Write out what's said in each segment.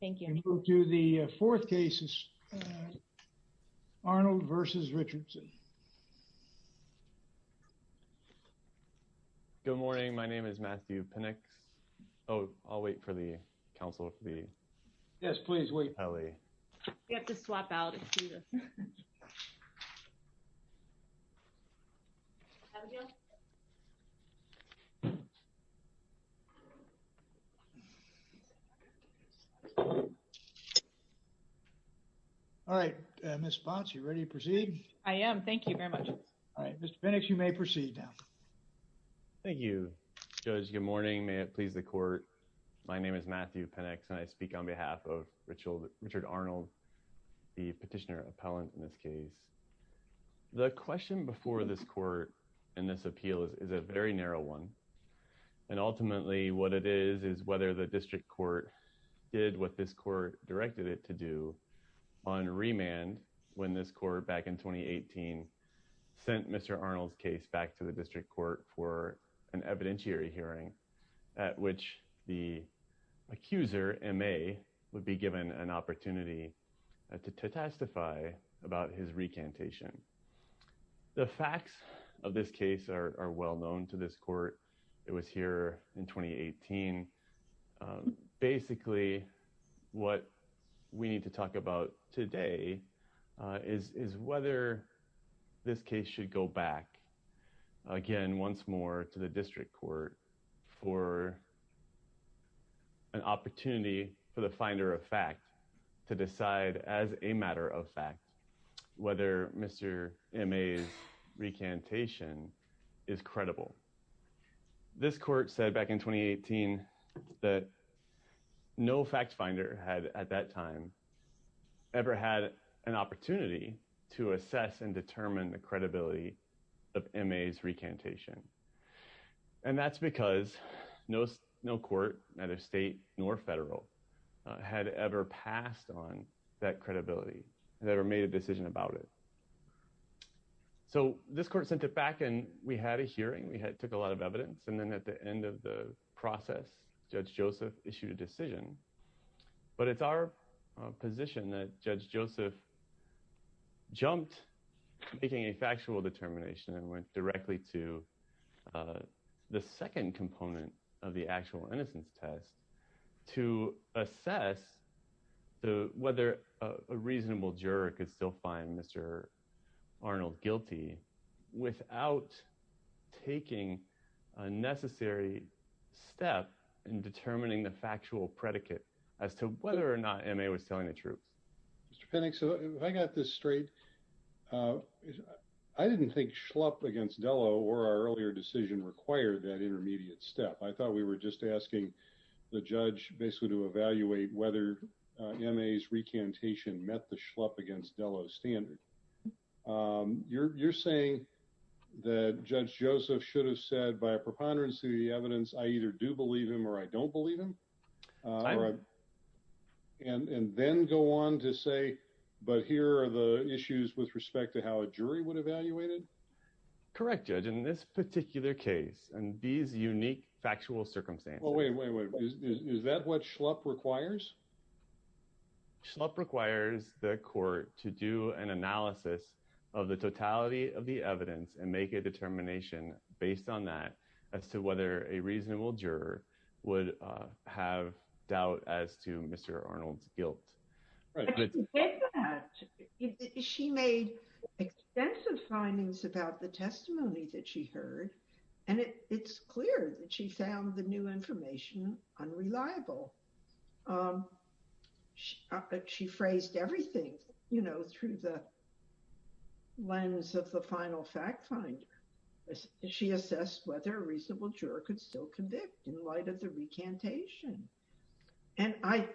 Good morning. My name is Matthew Pinnock. Oh, I'll wait for the councilor for the yes please wait Kelly. You have to swap out it. All right. Miss Fox, you're ready to proceed. I am. Thank you very much. All right. Mr. Phoenix, you may proceed now. Thank you. Good morning. May it please the court. My name is Matthew Pennex and I speak on behalf of Richard Richard Arnold, the petitioner appellant in this case. The question before this court in this appeal is a very narrow one. And ultimately what it is is whether the district court did what this court directed it to do on remand when this court back in 2018 sent Mr. Arnold's case back to the district court for an evidentiary hearing at which the accuser M.A. would be given an opportunity to testify about his recantation. The facts of this case are well known to this court. It was here in 2018. Basically what we need to talk about today is whether this case should go back again once more to the district court for an opportunity for the finder of fact to decide as a matter of fact whether Mr. M.A.'s recantation is credible. This court said back in 2018 that no fact finder had at that time ever had an opportunity to assess and determine the credibility of M.A.'s recantation. And that's because no court, neither state nor federal, had ever passed on that credibility, had ever made a decision about it. So this court sent it back and we had a hearing. We took a lot of evidence. And then at the end of the process, Judge Joseph issued a decision. But it's our position that Judge Joseph jumped making a determination and went directly to the second component of the actual innocence test to assess whether a reasonable juror could still find Mr. Arnold guilty without taking a necessary step in determining the factual predicate as to whether or not M.A. was telling the truth. Mr. Penning, so if I got this straight, I didn't think Schlupp against Dello or our earlier decision required that intermediate step. I thought we were just asking the judge basically to evaluate whether M.A.'s recantation met the Schlupp against Dello standard. You're saying that Judge Joseph should have said by a preponderance of the evidence, I either do believe him or I don't believe him. And then go on to say, but here are the issues with respect to how a jury would evaluate it. Correct, Judge, in this particular case and these unique factual circumstances, is that what Schlupp requires? Schlupp requires the court to do an analysis of the totality of the evidence and make a decision on whether or not a reasonable juror would have doubt as to Mr. Arnold's guilt. She made extensive findings about the testimony that she heard, and it's clear that she found the new information unreliable. She phrased everything, you know, through the lens of the convict in light of the recantation. And I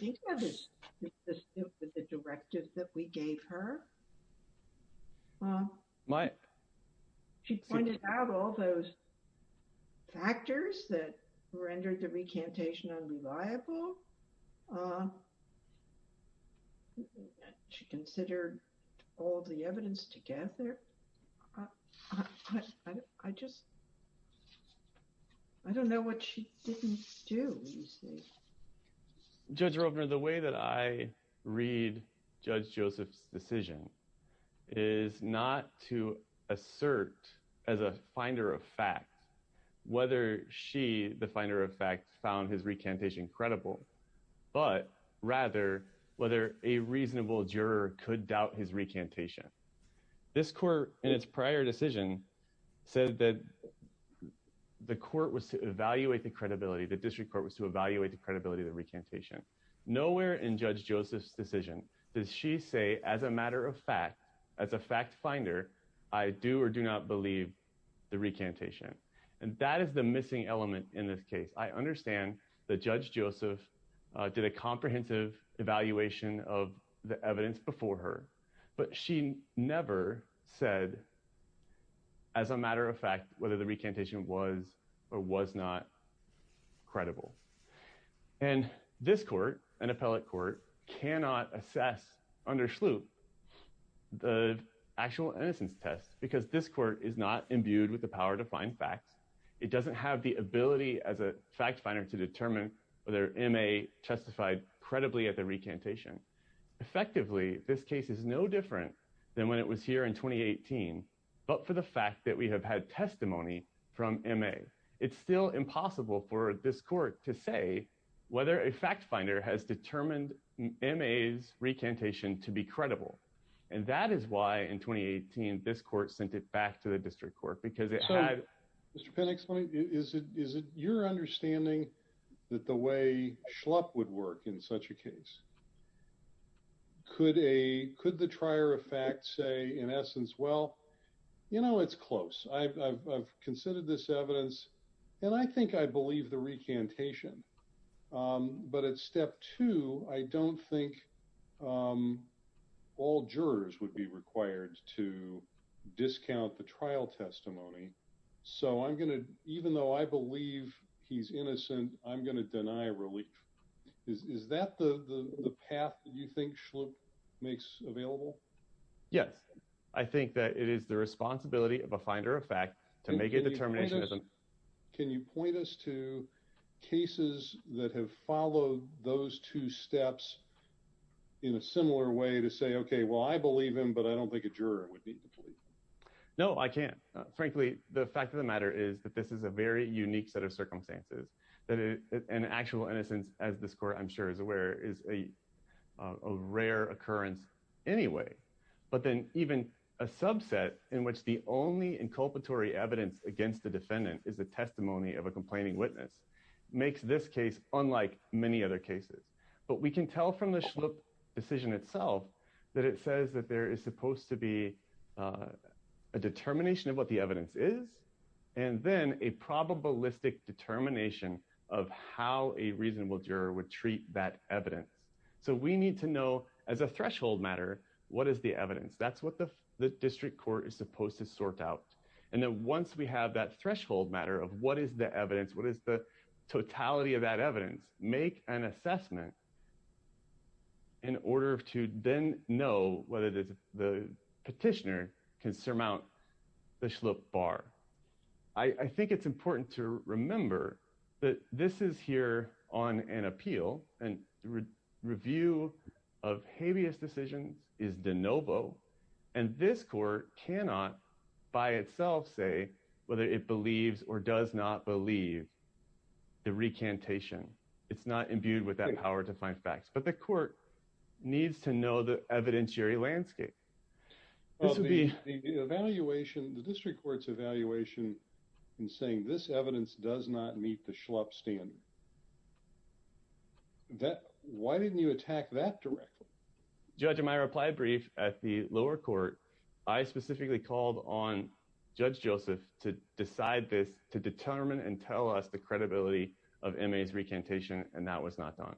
think that is the directive that we gave her. She pointed out all those factors that rendered the recantation unreliable. She considered all the evidence together. I just, I don't know what she didn't do. Judge Robner, the way that I read Judge Joseph's decision is not to assert as a finder of fact, whether she, the finder of fact, found his recantation credible, but rather, whether a This court, in its prior decision, said that the court was to evaluate the credibility, the district court was to evaluate the credibility of the recantation. Nowhere in Judge Joseph's decision does she say as a matter of fact, as a fact finder, I do or do not believe the recantation. And that is the missing element in this case. I understand that Judge Joseph did a comprehensive evaluation of the evidence before her, but she never said as a matter of fact, whether the recantation was or was not credible. And this court, an appellate court, cannot assess under Sloop the actual innocence test because this court is not imbued with the power to find facts. It doesn't have the ability as a fact finder to determine whether M.A. testified credibly at the recantation. Effectively, this case is no different than when it was here in 2018. But for the fact that we have had testimony from M.A., it's still impossible for this court to say whether a fact finder has determined M.A.'s recantation to be credible. And that is why in 2018, this court sent it back to the district court because it had. Mr. Pennex, is it your understanding that the way Schlupp would work in such a case? Could the trier of fact say, in essence, well, you know, it's close. I've considered this evidence and I think I believe the recantation. But at step two, I don't think all jurors would be so I'm going to even though I believe he's innocent, I'm going to deny relief. Is that the path that you think makes available? Yes, I think that it is the responsibility of a finder of fact to make a determination. Can you point us to cases that have followed those two steps in a similar way to say, OK, well, I believe him, but I don't think a juror would need to plead? No, I can't. Frankly, the fact of the matter is that this is a very unique set of circumstances that an actual innocence, as this court, I'm sure is aware, is a rare occurrence anyway. But then even a subset in which the only inculpatory evidence against the defendant is a testimony of a complaining witness makes this case unlike many other cases. But we can tell from the decision itself that it says that there is supposed to be a determination of what the evidence is and then a probabilistic determination of how a reasonable juror would treat that evidence. So we need to know as a threshold matter, what is the evidence? That's what the district court is supposed to sort out. And then once we have that threshold matter of what is the totality of that evidence, make an assessment. In order to then know whether the petitioner can surmount the bar, I think it's important to remember that this is here on an appeal and review of habeas decisions is de novo. And this court cannot by itself say whether it believes or does not believe the recantation. It's not imbued with that power to find facts. But the court needs to know the evidentiary landscape. The evaluation, the district court's evaluation in saying this evidence does not meet the schlup standard. Why didn't you attack that directly? Judge, in my reply brief at the lower court, I specifically called on Judge Joseph to decide this, to determine and tell us the credibility of M.A.'s recantation, and that was not done.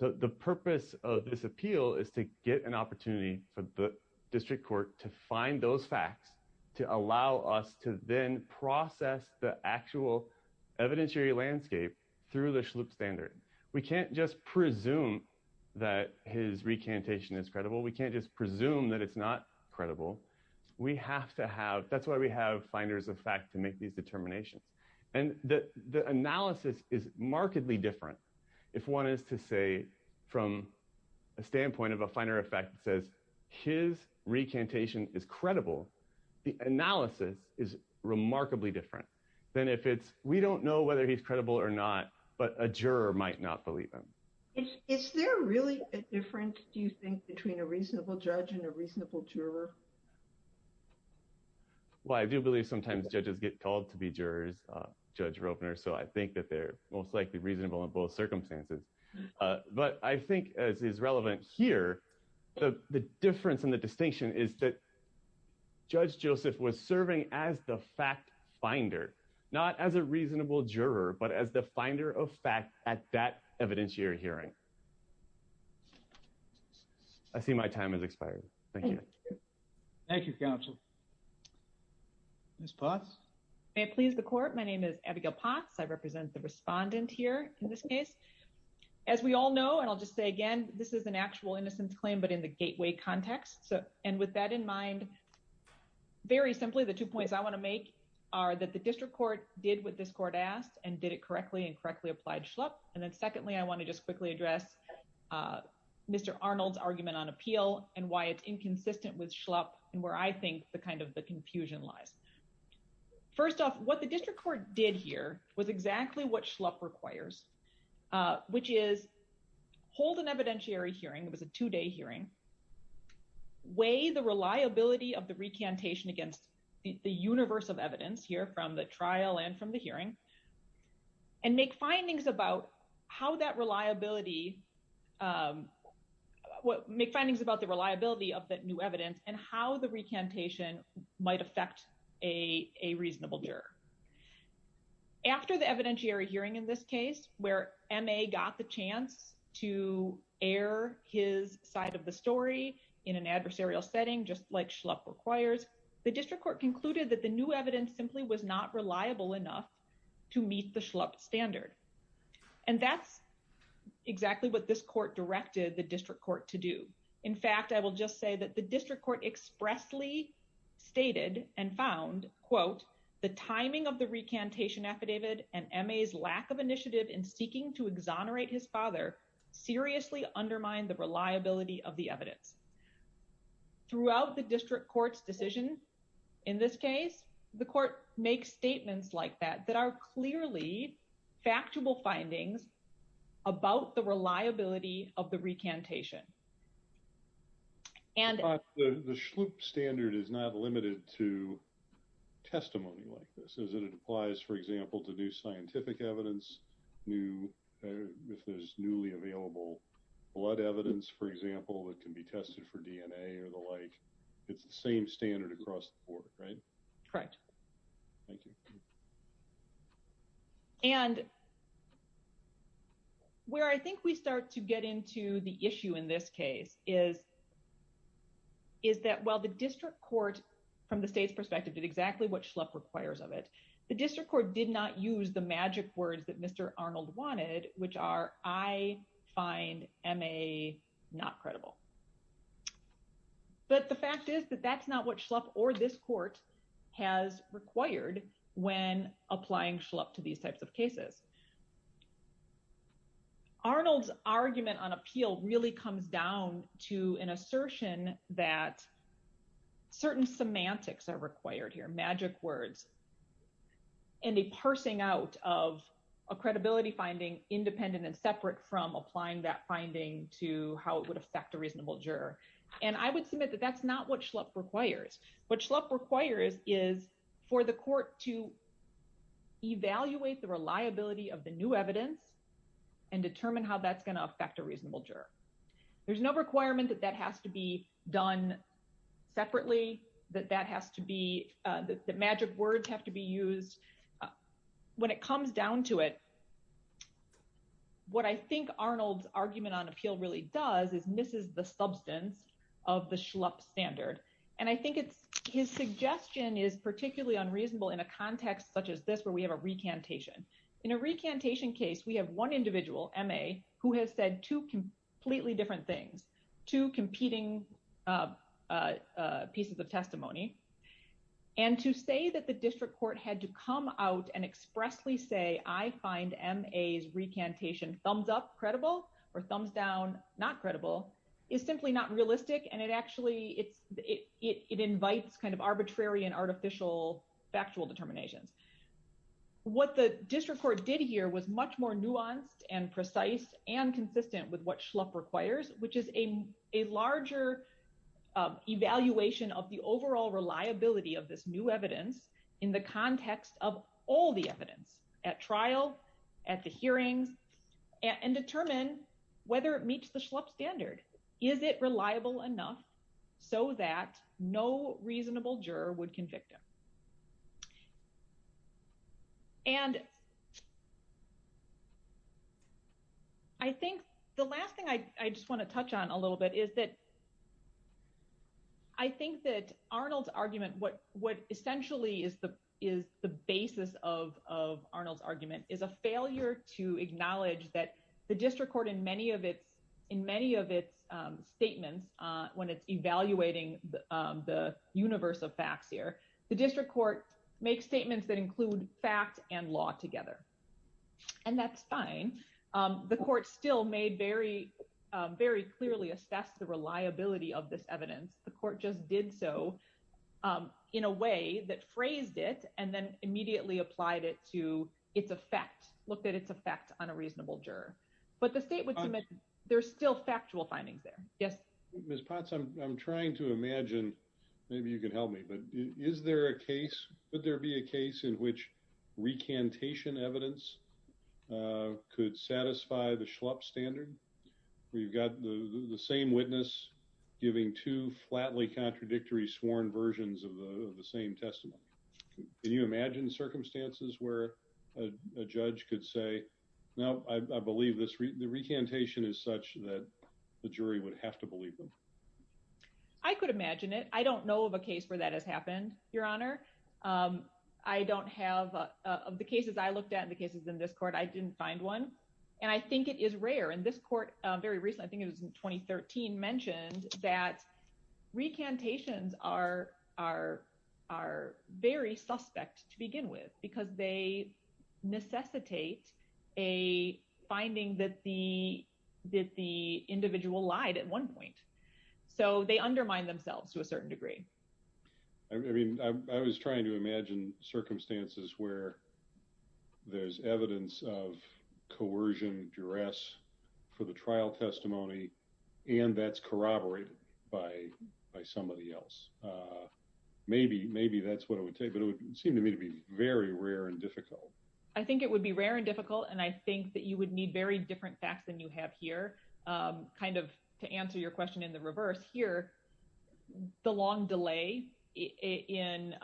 The purpose of this appeal is to get an opportunity for the district court to find those facts to allow us to then process the actual evidentiary landscape through the schlup standard. We can't just presume that his recantation is credible. We have to have, that's why we have finders of fact to make these determinations. And the analysis is markedly different if one is to say from a standpoint of a finder of fact that says his recantation is credible. The analysis is remarkably different than if it's we don't know whether he's credible or not, but a juror might not believe him. Is there really a difference do you think between a reasonable judge and a reasonable juror? Well, I do believe sometimes judges get called to be jurors, Judge Ropener, so I think that they're most likely reasonable in both circumstances. But I think as is relevant here, the difference and the distinction is that Judge Joseph was serving as the fact finder, not as a reasonable juror, but as the finder of fact at that evidentiary hearing. I see my time has expired. Thank you. Thank you, counsel. Ms. Potts? May it please the court, my name is Abigail Potts. I represent the respondent here in this case. As we all know, and I'll just say again, this is an actual innocence claim, but in the gateway context. And with that in mind, very simply, the two points I want to make are that the district court did what this court asked and did it correctly and correctly applied and then secondly, I want to just quickly address Mr. Arnold's argument on appeal and why it's inconsistent with Schlupp and where I think the kind of the confusion lies. First off, what the district court did here was exactly what Schlupp requires, which is hold an evidentiary hearing, it was a two day hearing, weigh the reliability of the recantation against the universe of evidence here from the trial and the hearing and make findings about how that reliability, make findings about the reliability of that new evidence and how the recantation might affect a reasonable juror. After the evidentiary hearing in this case, where MA got the chance to air his side of the story in an adversarial setting, just like Schlupp requires, the district court concluded that the new evidence simply was not reliable enough to meet the Schlupp standard. And that's exactly what this court directed the district court to do. In fact, I will just say that the district court expressly stated and found, quote, the timing of the recantation affidavit and MA's lack of initiative in seeking to exonerate his father seriously undermined the reliability of the evidence. Throughout the district court's in this case, the court makes statements like that, that are clearly factual findings about the reliability of the recantation. And the Schlupp standard is not limited to testimony like this, as it applies, for example, to new scientific evidence, new, if there's newly available blood evidence, for example, that can be tested for DNA or the like. It's the same standard across the board, right? Correct. Thank you. And where I think we start to get into the issue in this case is that while the district court, from the state's perspective, did exactly what Schlupp requires of it, the district court did not use the magic words that Mr. Arnold wanted, which are, I find MA not credible. But the fact is that that's not what Schlupp or this court has required when applying Schlupp to these types of cases. Arnold's argument on appeal really comes down to an assertion that certain semantics are required here, magic words, and a parsing out of a credibility finding independent and separate from applying that finding to how it would affect a reasonable juror. And I would submit that that's not what Schlupp requires. What Schlupp requires is for the court to evaluate the reliability of the new evidence and determine how that's going to affect a reasonable juror. There's no requirement that that has to be done separately, that magic words have to be used. When it comes down to it, what I think Arnold's argument on appeal really does is misses the substance of the Schlupp standard. And I think his suggestion is particularly unreasonable in a context such as this, where we have a recantation. In a recantation case, we have one individual, M.A., who has said two completely different things, two competing pieces of testimony. And to say that the district court had to come out and expressly say, I find M.A.'s recantation thumbs up, credible, or thumbs down, not credible, is simply not realistic. And it invites kind of arbitrary and artificial factual determinations. What the district court did here was much more nuanced and precise and consistent with what Schlupp requires, which is a larger evaluation of the overall reliability of this new evidence in the context of all the evidence at trial, at the hearings, and determine whether it meets the Schlupp standard. Is it reliable enough so that no reasonable juror would convict him? And I think the last thing I just want to touch on a little bit is that I think that Arnold's argument, what essentially is the basis of Arnold's argument, is a failure to acknowledge that the district court, in many of its statements, when it's evaluating the universe of facts here, the district court makes statements that include fact and law together. And that's fine. The court still made very clearly assess the reliability of this evidence. The court just did so in a way that phrased it and then immediately applied it to its effect, looked at its effect on a reasonable juror. But the state would submit there's still factual findings there. Yes. Ms. Potts, I'm trying to imagine, maybe you can help me, but is there a case, would there be a case in which recantation evidence could satisfy the Schlupp standard, where you've got the same witness giving two flatly contradictory sworn versions of the same testimony? Can you imagine circumstances where a judge could say, no, I believe this, the recantation is such that the jury would have to believe them? I could imagine it. I don't know of a case where that has happened, Your Honor. I don't have, of the cases I looked at, the cases in this court, I didn't find one. And I think it is rare. And this court very recently, I think it was in 2013, mentioned that recantations are very suspect to that the individual lied at one point. So they undermine themselves to a certain degree. I mean, I was trying to imagine circumstances where there's evidence of coercion, duress for the trial testimony, and that's corroborated by somebody else. Maybe that's what it would take, but it would seem to me to be very rare and difficult. I think it would be rare and difficult. And I think that you would need very different facts than you have here. Kind of to answer your question in the reverse here, the long delay in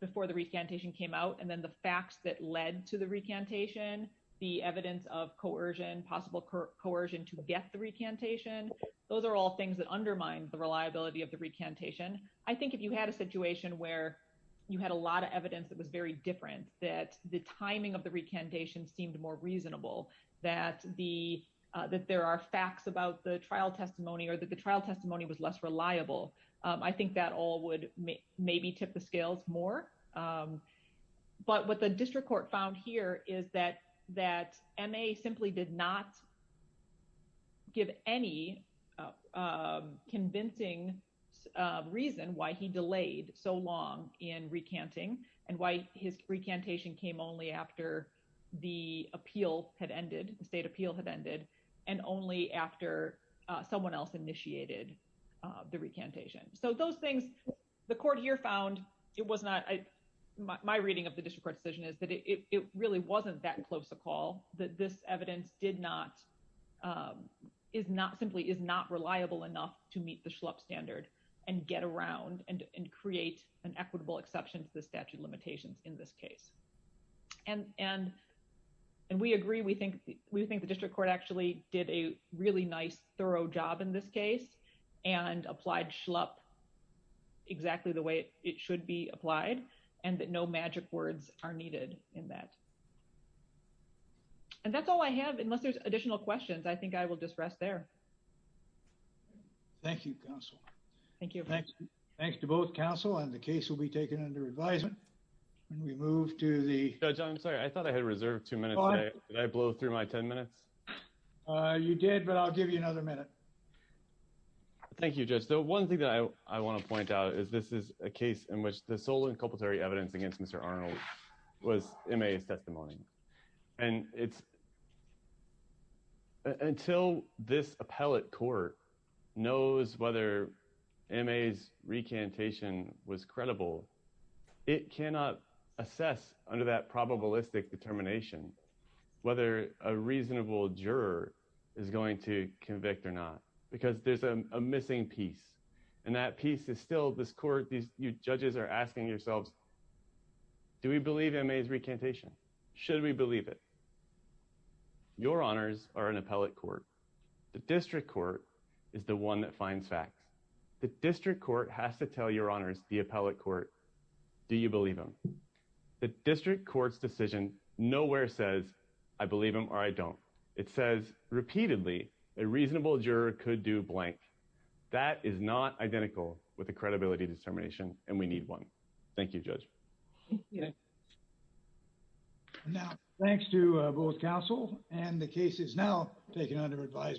before the recantation came out, and then the facts that led to the recantation, the evidence of coercion, possible coercion to get the recantation, those are all things that undermine the reliability of the recantation. I think if you had a situation where you had a lot of evidence that was very reasonable, that there are facts about the trial testimony or that the trial testimony was less reliable, I think that all would maybe tip the scales more. But what the district court found here is that MA simply did not give any convincing reason why he delayed so long in recanting and why his recantation came only after the appeal had ended, the state appeal had ended, and only after someone else initiated the recantation. So those things, the court here found it was not, my reading of the district court decision is that it really wasn't that close a call, that this evidence did not, simply is not reliable enough to meet the Schlupp standard and get around and create an equitable exception to the statute of limitations in this case. And we agree, we think the district court actually did a really nice thorough job in this case and applied Schlupp exactly the way it should be applied and that no magic words are needed in that. And that's all I have, unless there's additional questions, I think I will just rest there. Thank you, counsel. Thank you. Thanks to both counsel and the case will be taken under advisement when we move to the... Judge, I'm sorry, I thought I had reserved two minutes. Did I blow through my 10 minutes? You did, but I'll give you another minute. Thank you, Judge. So one thing that I want to point out is this is a case in which the appellate court knows whether M.A.'s recantation was credible. It cannot assess under that probabilistic determination, whether a reasonable juror is going to convict or not, because there's a missing piece. And that piece is still this court, these judges are asking yourselves, do we believe M.A.'s recantation? Should we believe it? Your honors are an appellate court. The district court is the one that finds facts. The district court has to tell your honors, the appellate court, do you believe him? The district court's decision nowhere says, I believe him or I don't. It says repeatedly, a reasonable juror could do blank. That is not identical with the credibility determination and we need one. Thank you, Judge. Yeah. Now, thanks to both counsel and the case is now taken under advisement.